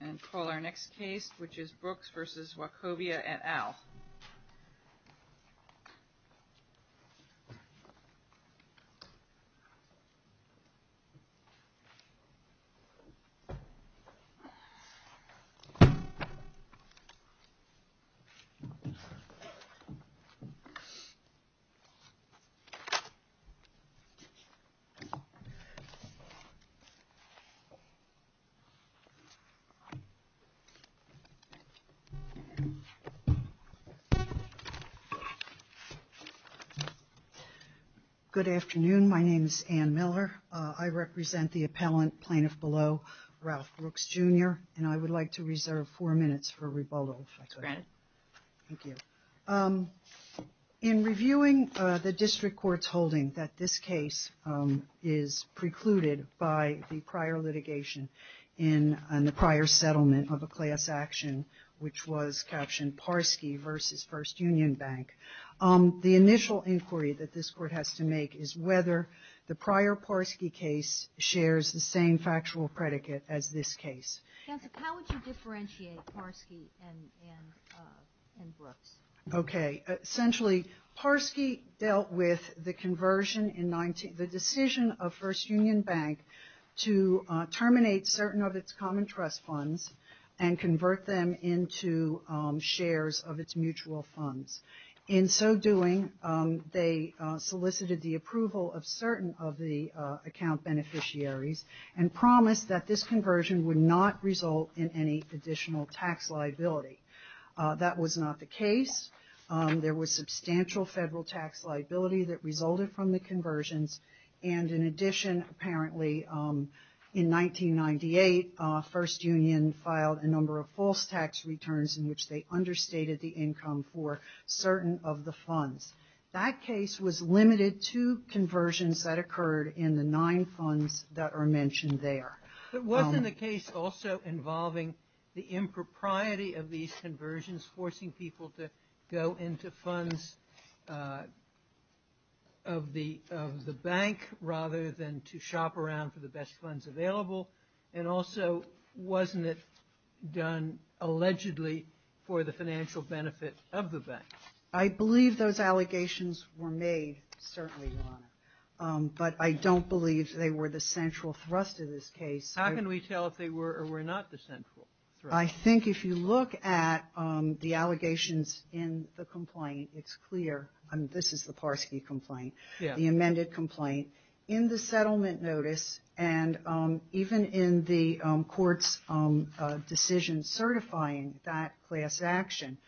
and call our next case which is Brooks v. Wachovia et al. Brooks v. Wachovia et al. Good afternoon. My name is Ann Miller. I represent the appellant, Plaintiff Below, Ralph Brooks, Jr. And I would like to reserve four minutes for rebuttal, if I could. Go ahead. Thank you. In reviewing the district court's holding that this case is precluded by the prior litigation in the prior settlement of a class action, which was captioned Parski v. First Union Bank, the initial inquiry that this court has to make is whether the prior Parski case shares the same factual predicate as this case. Counsel, how would you differentiate Parski and Brooks? Okay. Essentially, Parski dealt with the conversion in the decision of First Union Bank to terminate certain of its common trust funds and convert them into shares of its mutual funds. In so doing, they solicited the approval of certain of the account beneficiaries and promised that this conversion would not result in any additional tax liability. That was not the case. There was substantial federal tax liability that resulted from the conversions. And in addition, apparently in 1998, First Union filed a number of false tax returns in which they understated the income for certain of the funds. That case was limited to conversions that occurred in the nine funds that are mentioned there. But wasn't the case also involving the impropriety of these conversions, forcing people to go into funds of the bank rather than to shop around for the best funds available? And also, wasn't it done allegedly for the financial benefit of the bank? I believe those allegations were made, certainly, Your Honor. But I don't believe they were the central thrust of this case. How can we tell if they were or were not the central thrust? I think if you look at the allegations in the complaint, it's clear. This is the Parski complaint, the amended complaint. In the settlement notice and even in the court's decision certifying that class action,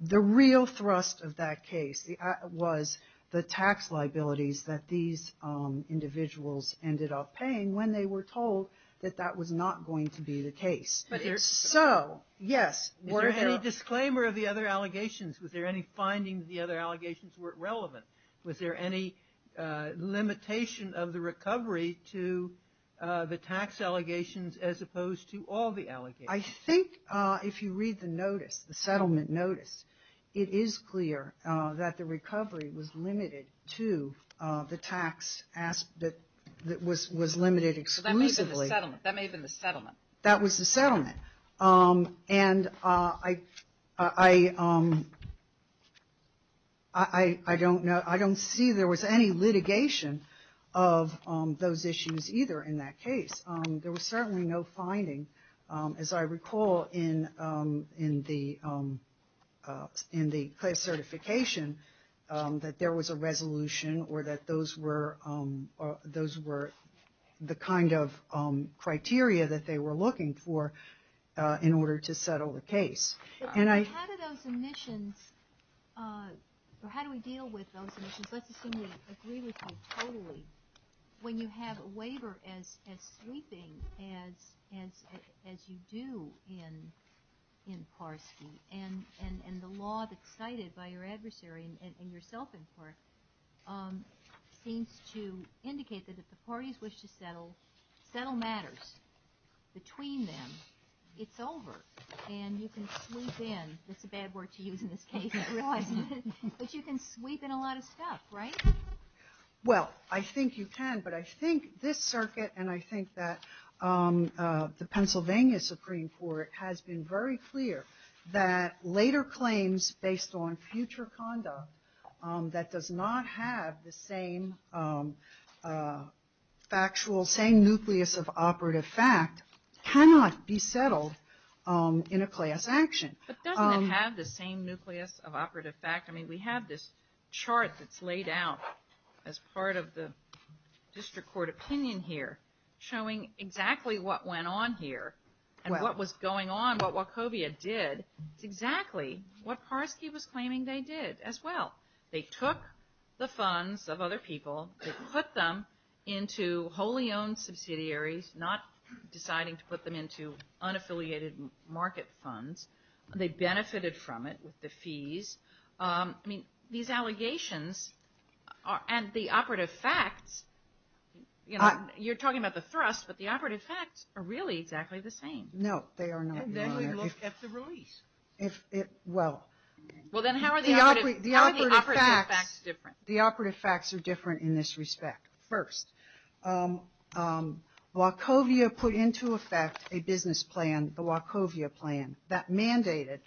the real thrust of that case was the tax liabilities that these individuals ended up paying when they were told that that was not going to be the case. So, yes. Was there any disclaimer of the other allegations? Was there any finding that the other allegations weren't relevant? Was there any limitation of the recovery to the tax allegations as opposed to all the allegations? I think if you read the notice, the settlement notice, it is clear that the recovery was limited to the tax that was limited exclusively. That may have been the settlement. That was the settlement. And I don't see there was any litigation of those issues either in that case. There was certainly no finding, as I recall, in the certification that there was a resolution or that those were the kind of criteria that they were looking for in order to settle the case. How do those omissions, or how do we deal with those omissions? Let's assume we agree with you totally. When you have a waiver as sweeping as you do in Parski, and the law that's cited by your adversary, and yourself in part, seems to indicate that if the parties wish to settle matters between them, it's over. And you can sweep in. That's a bad word to use in this case. But you can sweep in a lot of stuff, right? Well, I think you can. But I think this circuit and I think that the Pennsylvania Supreme Court has been very clear that later claims based on future conduct that does not have the same factual, same nucleus of operative fact cannot be settled in a class action. But doesn't it have the same nucleus of operative fact? I mean, we have this chart that's laid out as part of the district court opinion here, showing exactly what went on here and what was going on, what Wachovia did. It's exactly what Parski was claiming they did as well. They took the funds of other people, they put them into wholly owned subsidiaries, not deciding to put them into unaffiliated market funds. They benefited from it with the fees. I mean, these allegations and the operative facts, you know, you're talking about the thrust, but the operative facts are really exactly the same. No, they are not. And then we look at the release. Well, then how are the operative facts different? The operative facts are different in this respect. First, Wachovia put into effect a business plan, the Wachovia plan, that mandated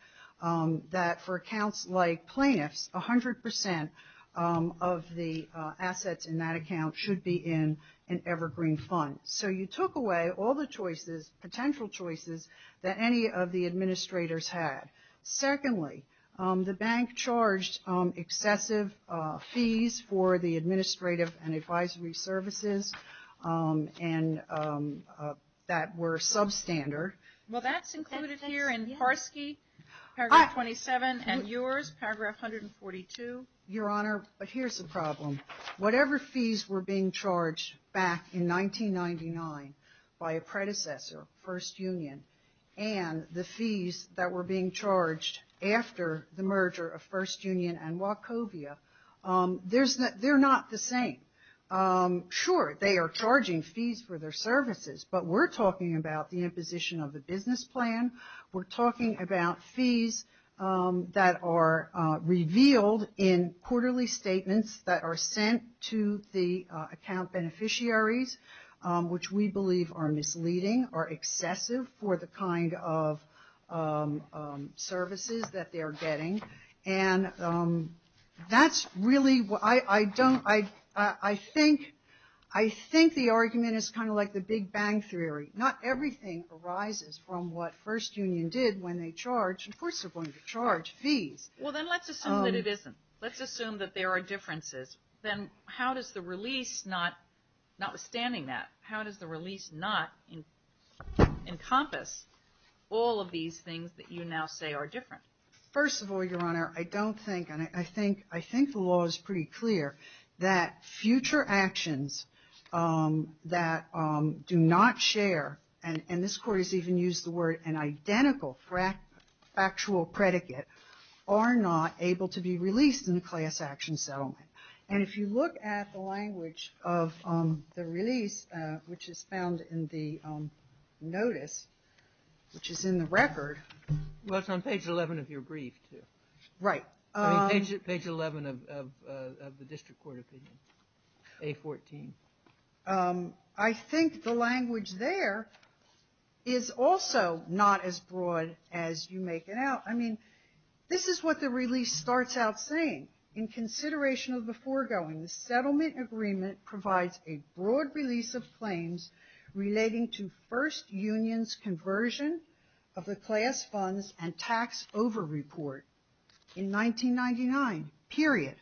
that for accounts like plaintiffs, 100% of the assets in that account should be in an evergreen fund. So you took away all the choices, potential choices, that any of the administrators had. Secondly, the bank charged excessive fees for the administrative and advisory services that were substandard. Well, that's included here in Parski, Paragraph 27, and yours, Paragraph 142. Your Honor, here's the problem. Whatever fees were being charged back in 1999 by a predecessor, First Union, and the fees that were being charged after the merger of First Union and Wachovia, they're not the same. Sure, they are charging fees for their services, but we're talking about the imposition of the business plan. We're talking about fees that are revealed in quarterly statements that are sent to the account beneficiaries, which we believe are misleading, are excessive for the kind of services that they're getting. I think the argument is kind of like the Big Bang Theory. Not everything arises from what First Union did when they charged. Of course they're going to charge fees. Well, then let's assume that it isn't. Let's assume that there are differences. Then how does the release, notwithstanding that, how does the release not encompass all of these things that you now say are different? First of all, Your Honor, I don't think and I think the law is pretty clear that future actions that do not share, and this Court has even used the word an identical factual predicate, are not able to be released in a class action settlement. And if you look at the language of the release, which is found in the notice, which is in the record. Well, it's on page 11 of your brief, too. Right. Page 11 of the district court opinion, A14. I think the language there is also not as broad as you make it out. I mean, this is what the release starts out saying. In consideration of the foregoing, the settlement agreement provides a broad release of claims relating to first union's conversion of the class funds and tax over report in 1999, period.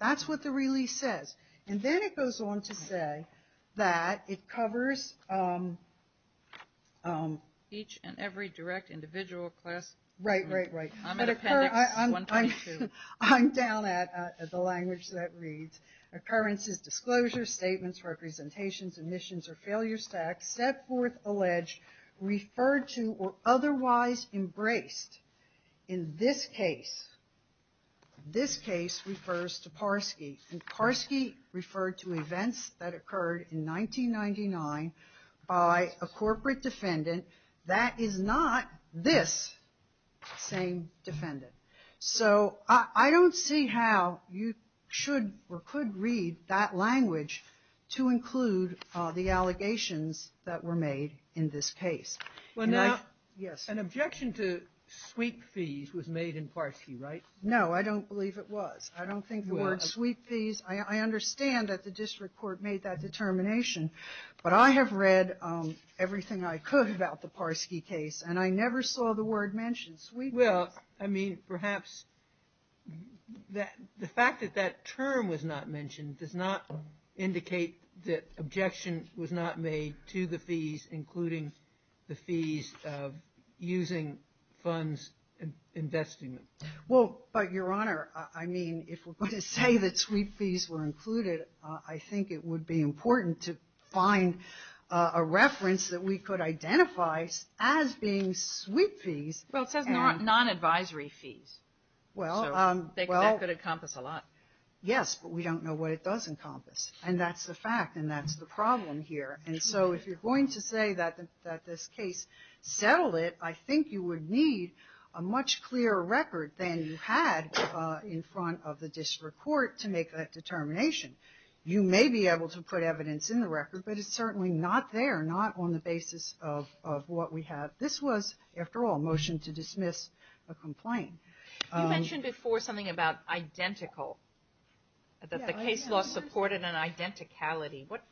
That's what the release says. And then it goes on to say that it covers each and every direct individual class. Right, right, right. I'm at appendix 122. I'm down at the language that reads, occurrences, disclosures, statements, representations, admissions, or failures to accept, forth, alleged, referred to, or otherwise embraced. In this case, this case refers to Parski. And Parski referred to events that occurred in 1999 by a corporate defendant that is not this same defendant. So I don't see how you should or could read that language to include the allegations that were made in this case. Well, now. Yes. An objection to sweep fees was made in Parski, right? No, I don't believe it was. I don't think the word sweep fees. I understand that the district court made that determination. But I have read everything I could about the Parski case, and I never saw the word mentioned, sweep fees. Well, I mean, perhaps the fact that that term was not mentioned does not indicate that objection was not made to the fees, including the fees of using funds and investing them. Well, but, Your Honor, I mean, if we're going to say that sweep fees were included, I think it would be important to find a reference that we could identify as being sweep fees. Well, it says non-advisory fees. Well, well. So that could encompass a lot. Yes, but we don't know what it does encompass. And that's the fact, and that's the problem here. And so if you're going to say that this case settled it, I think you would need a much clearer record than you had in front of the district court to make that determination. You may be able to put evidence in the record, but it's certainly not there, not on the basis of what we have. But this was, after all, a motion to dismiss a complaint. You mentioned before something about identical, that the case law supported an identicality. What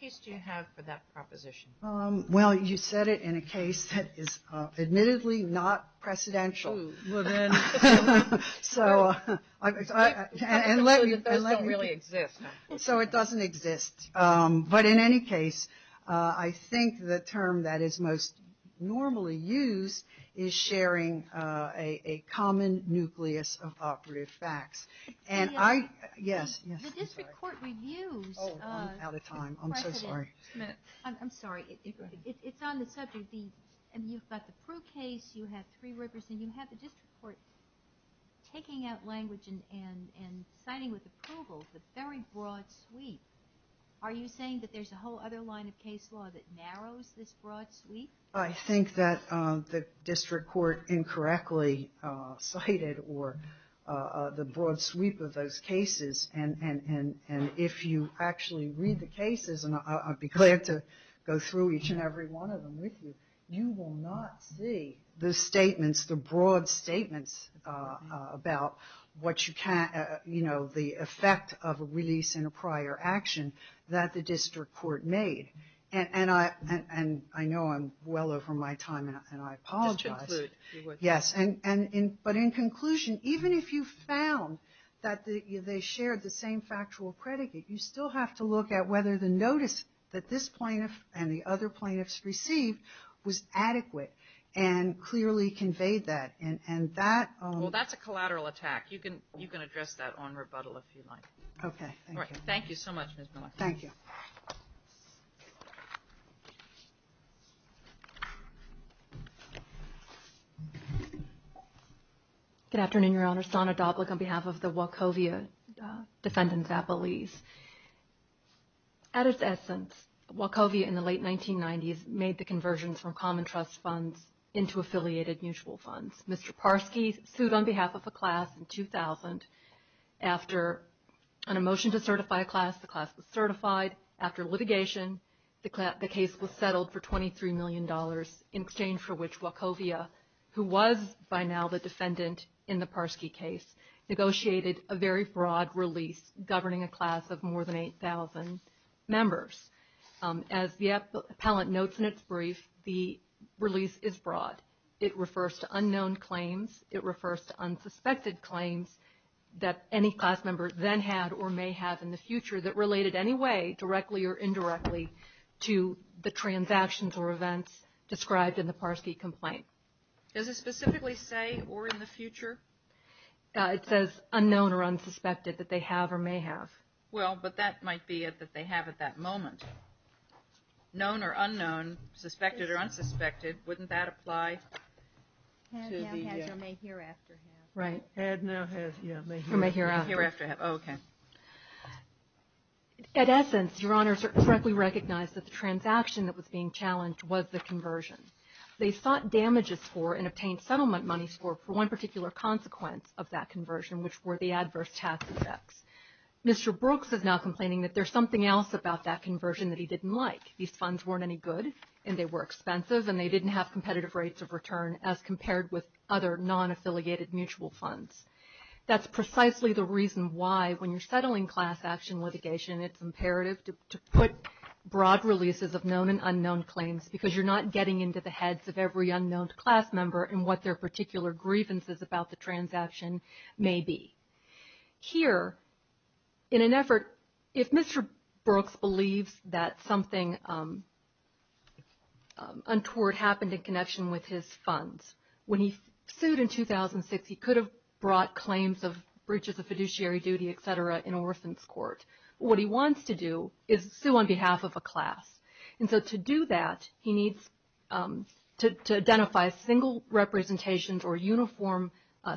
case do you have for that proposition? Well, you said it in a case that is admittedly not precedential. Well, then. So, and let me. Those don't really exist. So it doesn't exist. But in any case, I think the term that is most normally used is sharing a common nucleus of operative facts. And I, yes, yes. The district court reviews. Oh, I'm out of time. I'm so sorry. I'm sorry. It's on the subject. And you've got the Prue case. You have three representatives. And you have the district court taking out language and signing with approval the very broad sweep. Are you saying that there's a whole other line of case law that narrows this broad sweep? I think that the district court incorrectly cited the broad sweep of those cases. And if you actually read the cases, and I'd be glad to go through each and every one of them with you, you will not see the statements, the broad statements about what you can't, you know, the effect of a release in a prior action that the district court made. And I know I'm well over my time, and I apologize. Just conclude. Yes. But in conclusion, even if you found that they shared the same factual predicate, you still have to look at whether the notice that this plaintiff and the other plaintiffs received was adequate and clearly conveyed that. And that — Well, that's a collateral attack. You can address that on rebuttal if you'd like. Okay. All right. Thank you so much, Ms. Milack. Thank you. Good afternoon, Your Honor. On behalf of the Wachovia defendants' appellees. At its essence, Wachovia in the late 1990s made the conversions from common trust funds into affiliated mutual funds. Mr. Parsky sued on behalf of a class in 2000. After a motion to certify a class, the class was certified. After litigation, the case was settled for $23 million, in exchange for which Wachovia, who was by now the defendant in the Parsky case, negotiated a very broad release governing a class of more than 8,000 members. As the appellant notes in its brief, the release is broad. It refers to unknown claims. It refers to unsuspected claims that any class member then had or may have in the future that related any way, directly or indirectly, to the transactions or events described in the Parsky complaint. Does it specifically say, or in the future? It says unknown or unsuspected that they have or may have. Well, but that might be it, that they have at that moment. Known or unknown, suspected or unsuspected, wouldn't that apply? Had, now has, or may hereafter have. Right. Had, now has, or may hereafter have. May hereafter have. Okay. At essence, Your Honors are correctly recognized that the transaction that was being challenged was the conversion. They sought damages for and obtained settlement money for one particular consequence of that conversion, which were the adverse tax effects. Mr. Brooks is now complaining that there's something else about that conversion that he didn't like. These funds weren't any good, and they were expensive, and they didn't have competitive rates of return as compared with other non-affiliated mutual funds. That's precisely the reason why, when you're settling class action litigation, it's imperative to put broad releases of known and unknown claims, because you're not getting into the heads of every unknown class member and what their particular grievances about the transaction may be. Here, in an effort, if Mr. Brooks believes that something untoward happened in connection with his funds, when he sued in 2006, he could have brought claims of breaches of fiduciary duty, et cetera, in orphan's court. What he wants to do is sue on behalf of a class. And so to do that, he needs to identify single representations or uniform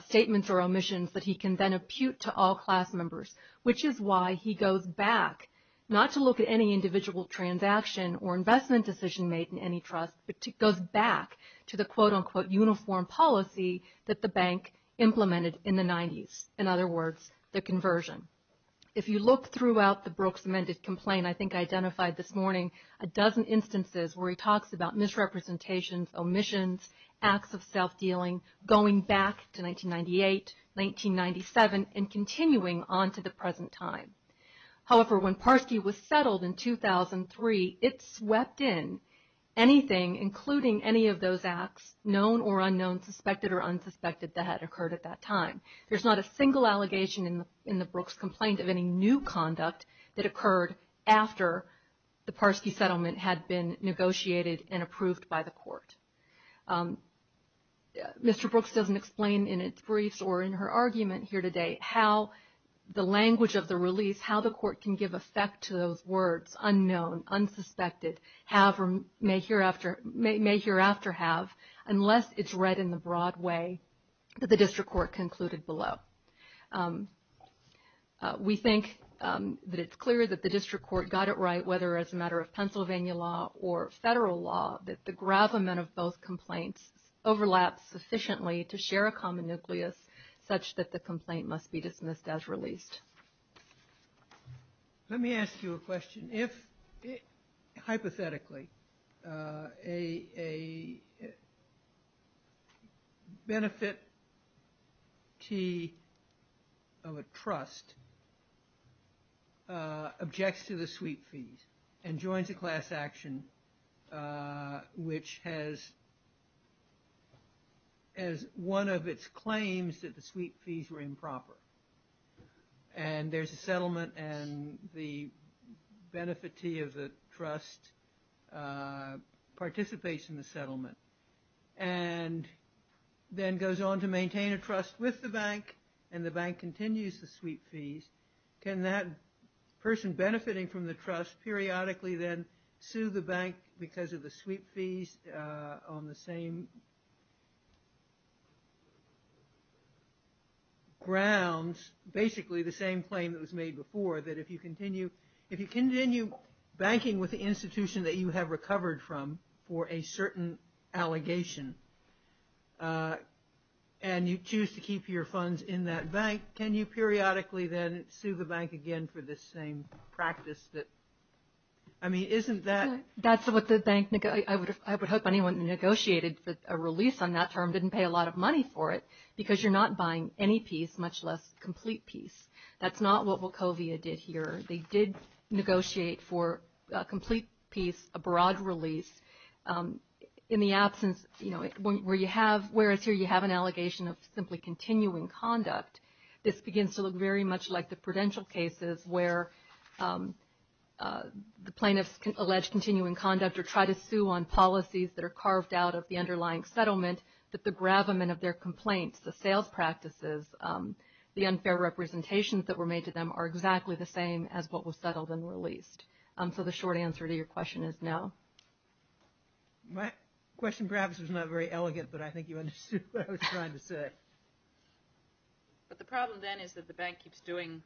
statements or omissions that he can then impute to all class members, which is why he goes back, not to look at any individual transaction or investment decision made in any trust, but goes back to the quote-unquote uniform policy that the bank implemented in the 90s, in other words, the conversion. If you look throughout the Brooks amended complaint, I think I identified this morning a dozen instances where he talks about misrepresentations, omissions, acts of self-dealing, going back to 1998, 1997, and continuing on to the present time. However, when Parsky was settled in 2003, it swept in anything, including any of those acts, known or unknown, suspected or unsuspected, that had occurred at that time. There's not a single allegation in the Brooks complaint of any new conduct that occurred after the Parsky settlement had been negotiated and approved by the court. Mr. Brooks doesn't explain in its briefs or in her argument here today how the language of the release, how the court can give effect to those words, unknown, unsuspected, have or may hereafter have, unless it's read in the broad way that the district court concluded below. We think that it's clear that the district court got it right, whether as a matter of Pennsylvania law or federal law, that the gravamen of both complaints overlaps sufficiently to share a common nucleus, such that the complaint must be dismissed as released. Let me ask you a question. If, hypothetically, a benefitee of a trust objects to the sweep fees and joins a class action, which has as one of its claims that the sweep fees were improper, and there's a settlement and the benefitee of the trust participates in the settlement and then goes on to maintain a trust with the bank and the bank continues the sweep fees, can that person benefiting from the trust periodically then sue the bank because of the sweep fees on the same grounds, basically the same claim that was made before, that if you continue banking with the institution that you have recovered from for a certain allegation and you choose to keep your funds in that bank, can you periodically then sue the bank again for the same practice that, I mean, isn't that? That's what the bank negotiated. I would hope anyone who negotiated a release on that term didn't pay a lot of money for it because you're not buying any piece, much less complete piece. That's not what Wachovia did here. They did negotiate for a complete piece, a broad release. In the absence, you know, whereas here you have an allegation of simply continuing conduct, this begins to look very much like the prudential cases where the plaintiffs allege continuing conduct or try to sue on policies that are carved out of the underlying settlement, that the gravamen of their complaints, the sales practices, the unfair representations that were made to them are exactly the same as what was settled and released. So the short answer to your question is no. My question perhaps was not very elegant, but I think you understood what I was trying to say. But the problem then is that the bank keeps doing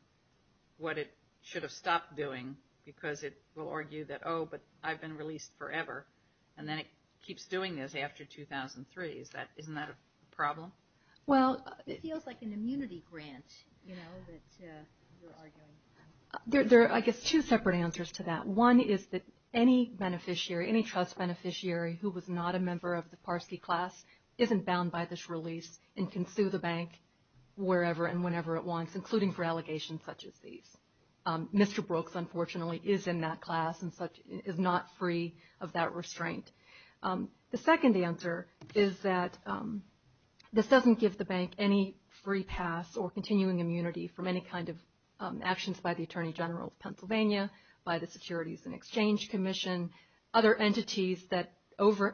what it should have stopped doing because it will argue that, oh, but I've been released forever, and then it keeps doing this after 2003. Isn't that a problem? Well, it feels like an immunity grant, you know, that you're arguing. There are, I guess, two separate answers to that. One is that any beneficiary, any trust beneficiary who was not a member of the Parsky class isn't bound by this release and can sue the bank wherever and whenever it wants, including for allegations such as these. Mr. Brooks, unfortunately, is in that class and is not free of that restraint. The second answer is that this doesn't give the bank any free pass or continuing immunity from any kind of actions by the Attorney General of Pennsylvania, by the Securities and Exchange Commission, other entities that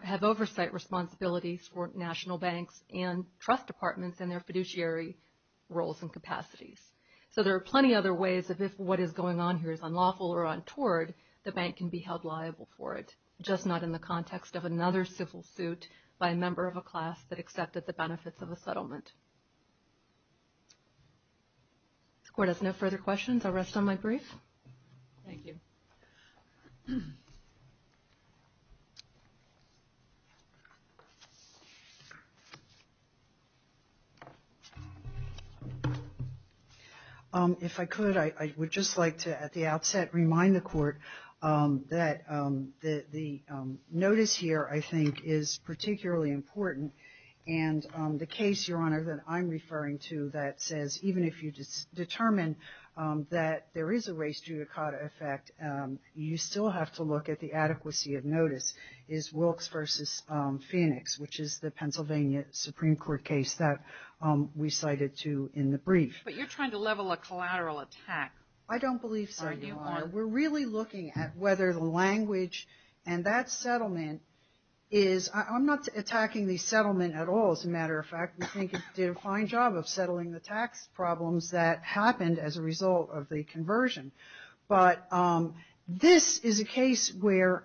have oversight responsibilities for national banks and trust departments in their fiduciary roles and capacities. So there are plenty of other ways of if what is going on here is unlawful or untoward, the bank can be held liable for it, just not in the context of another civil suit by a member of a class that accepted the benefits of a settlement. If the Court has no further questions, I'll rest on my brief. Thank you. If I could, I would just like to, at the outset, remind the Court that the notice here, I think, is particularly important. And the case, Your Honor, that I'm referring to that says even if you determine that there is a race judicata effect, you still have to look at the adequacy of notice, is Wilkes v. Phoenix, which is the Pennsylvania Supreme Court case that we cited, too, in the brief. But you're trying to level a collateral attack. I don't believe so, Your Honor. We're really looking at whether the language and that settlement is — I'm not attacking the settlement at all, as a matter of fact. We think it did a fine job of settling the tax problems that happened as a result of the conversion. But this is a case where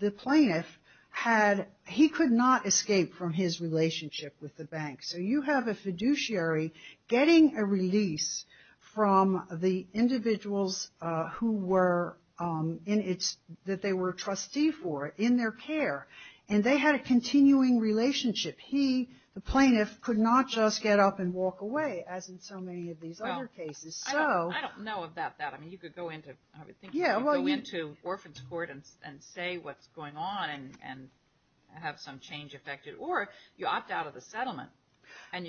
the plaintiff had — he could not escape from his relationship with the bank. So you have a fiduciary getting a release from the individuals who were in its — that they were a trustee for in their care. And they had a continuing relationship. He, the plaintiff, could not just get up and walk away, as in so many of these other cases. I don't know about that. I mean, you could go into — I would think you could go into Orphan's Court and say what's going on and have some change affected. Or you opt out of the settlement.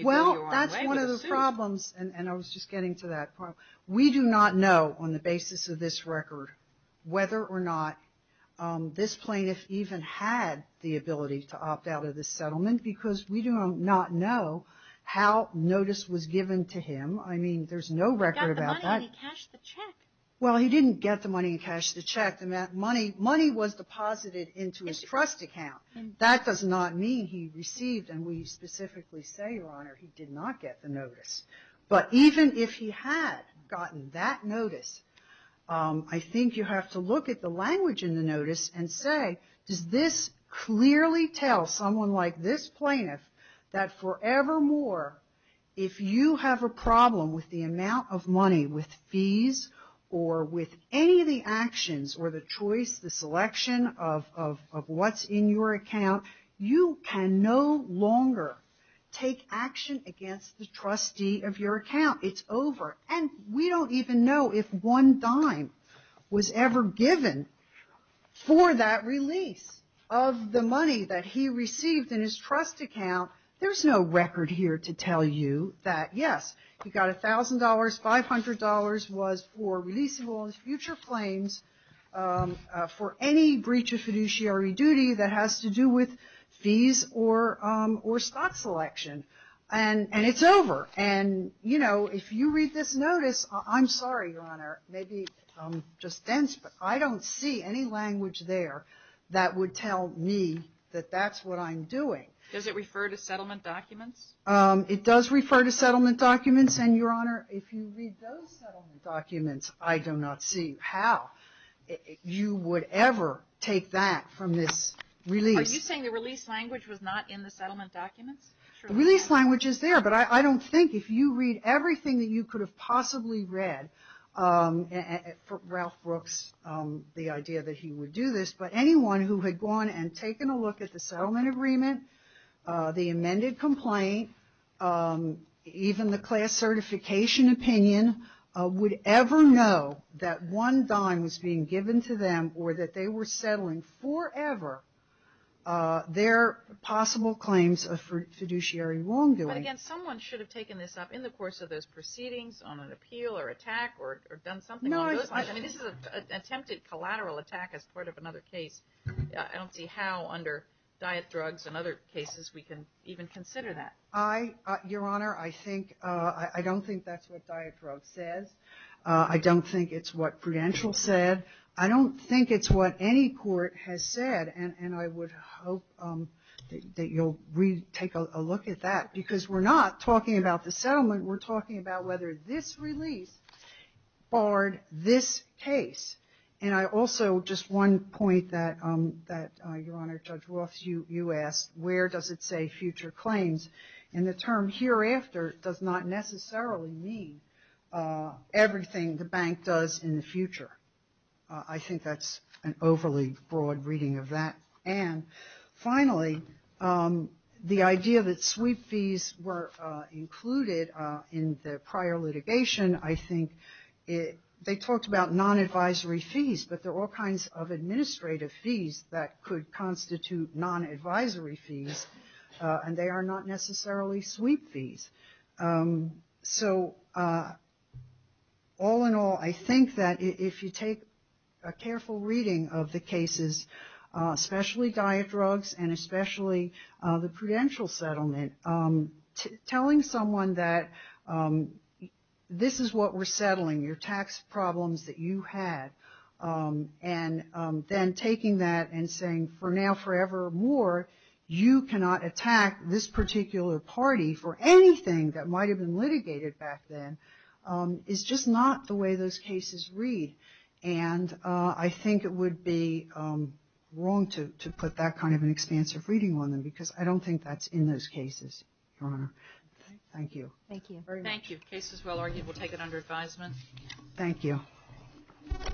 Well, that's one of the problems. And I was just getting to that point. We do not know, on the basis of this record, whether or not this plaintiff even had the ability to opt out of the settlement, because we do not know how notice was given to him. I mean, there's no record about that. He got the money and he cashed the check. Well, he didn't get the money and cashed the check. The money was deposited into his trust account. That does not mean he received — and we specifically say, Your Honor, he did not get the notice. But even if he had gotten that notice, I think you have to look at the language in the notice and say, does this clearly tell someone like this plaintiff that forevermore, if you have a problem with the amount of money, with fees or with any of the actions or the choice, the selection of what's in your account, you can no longer take action against the trustee of your account. It's over. And we don't even know if one dime was ever given for that release of the money that he received in his trust account. There's no record here to tell you that, yes, he got $1,000. $500 was for release of all his future claims for any breach of fiduciary duty that has to do with fees or stock selection. And it's over. And, you know, if you read this notice — I'm sorry, Your Honor, maybe I'm just dense, but I don't see any language there that would tell me that that's what I'm doing. Does it refer to settlement documents? It does refer to settlement documents. And, Your Honor, if you read those settlement documents, I do not see how you would ever take that from this release. Are you saying the release language was not in the settlement documents? The release language is there, but I don't think if you read everything that you could have possibly read, Ralph Brooks, the idea that he would do this, but anyone who had gone and taken a look at the settlement agreement, the amended complaint, even the class certification opinion, would ever know that one dime was being given to them or that they were settling forever their possible claims of fiduciary wrongdoing. But, again, someone should have taken this up in the course of those proceedings, on an appeal or attack, or done something along those lines. I mean, this is an attempted collateral attack as part of another case. I don't see how under diet drugs and other cases we can even consider that. Your Honor, I don't think that's what diet drug says. I don't think it's what Prudential said. I don't think it's what any court has said, and I would hope that you'll take a look at that, because we're not talking about the settlement. We're talking about whether this release barred this case. And I also, just one point that, Your Honor, Judge Roth, you asked, where does it say future claims? And the term hereafter does not necessarily mean everything the bank does in the future. I think that's an overly broad reading of that. And finally, the idea that sweep fees were included in the prior litigation, I think they talked about non-advisory fees, but there are all kinds of administrative fees that could constitute non-advisory fees, and they are not necessarily sweep fees. So all in all, I think that if you take a careful reading of the cases, especially diet drugs and especially the Prudential settlement, telling someone that this is what we're settling, your tax problems that you had, and then taking that and saying, for now, forever more, you cannot attack this particular party for anything that might have been litigated back then, is just not the way those cases read. And I think it would be wrong to put that kind of an expansive reading on them, because I don't think that's in those cases, Your Honor. Thank you. Thank you. Thank you. The case is well argued. We'll take it under advisement. Thank you. Thank you.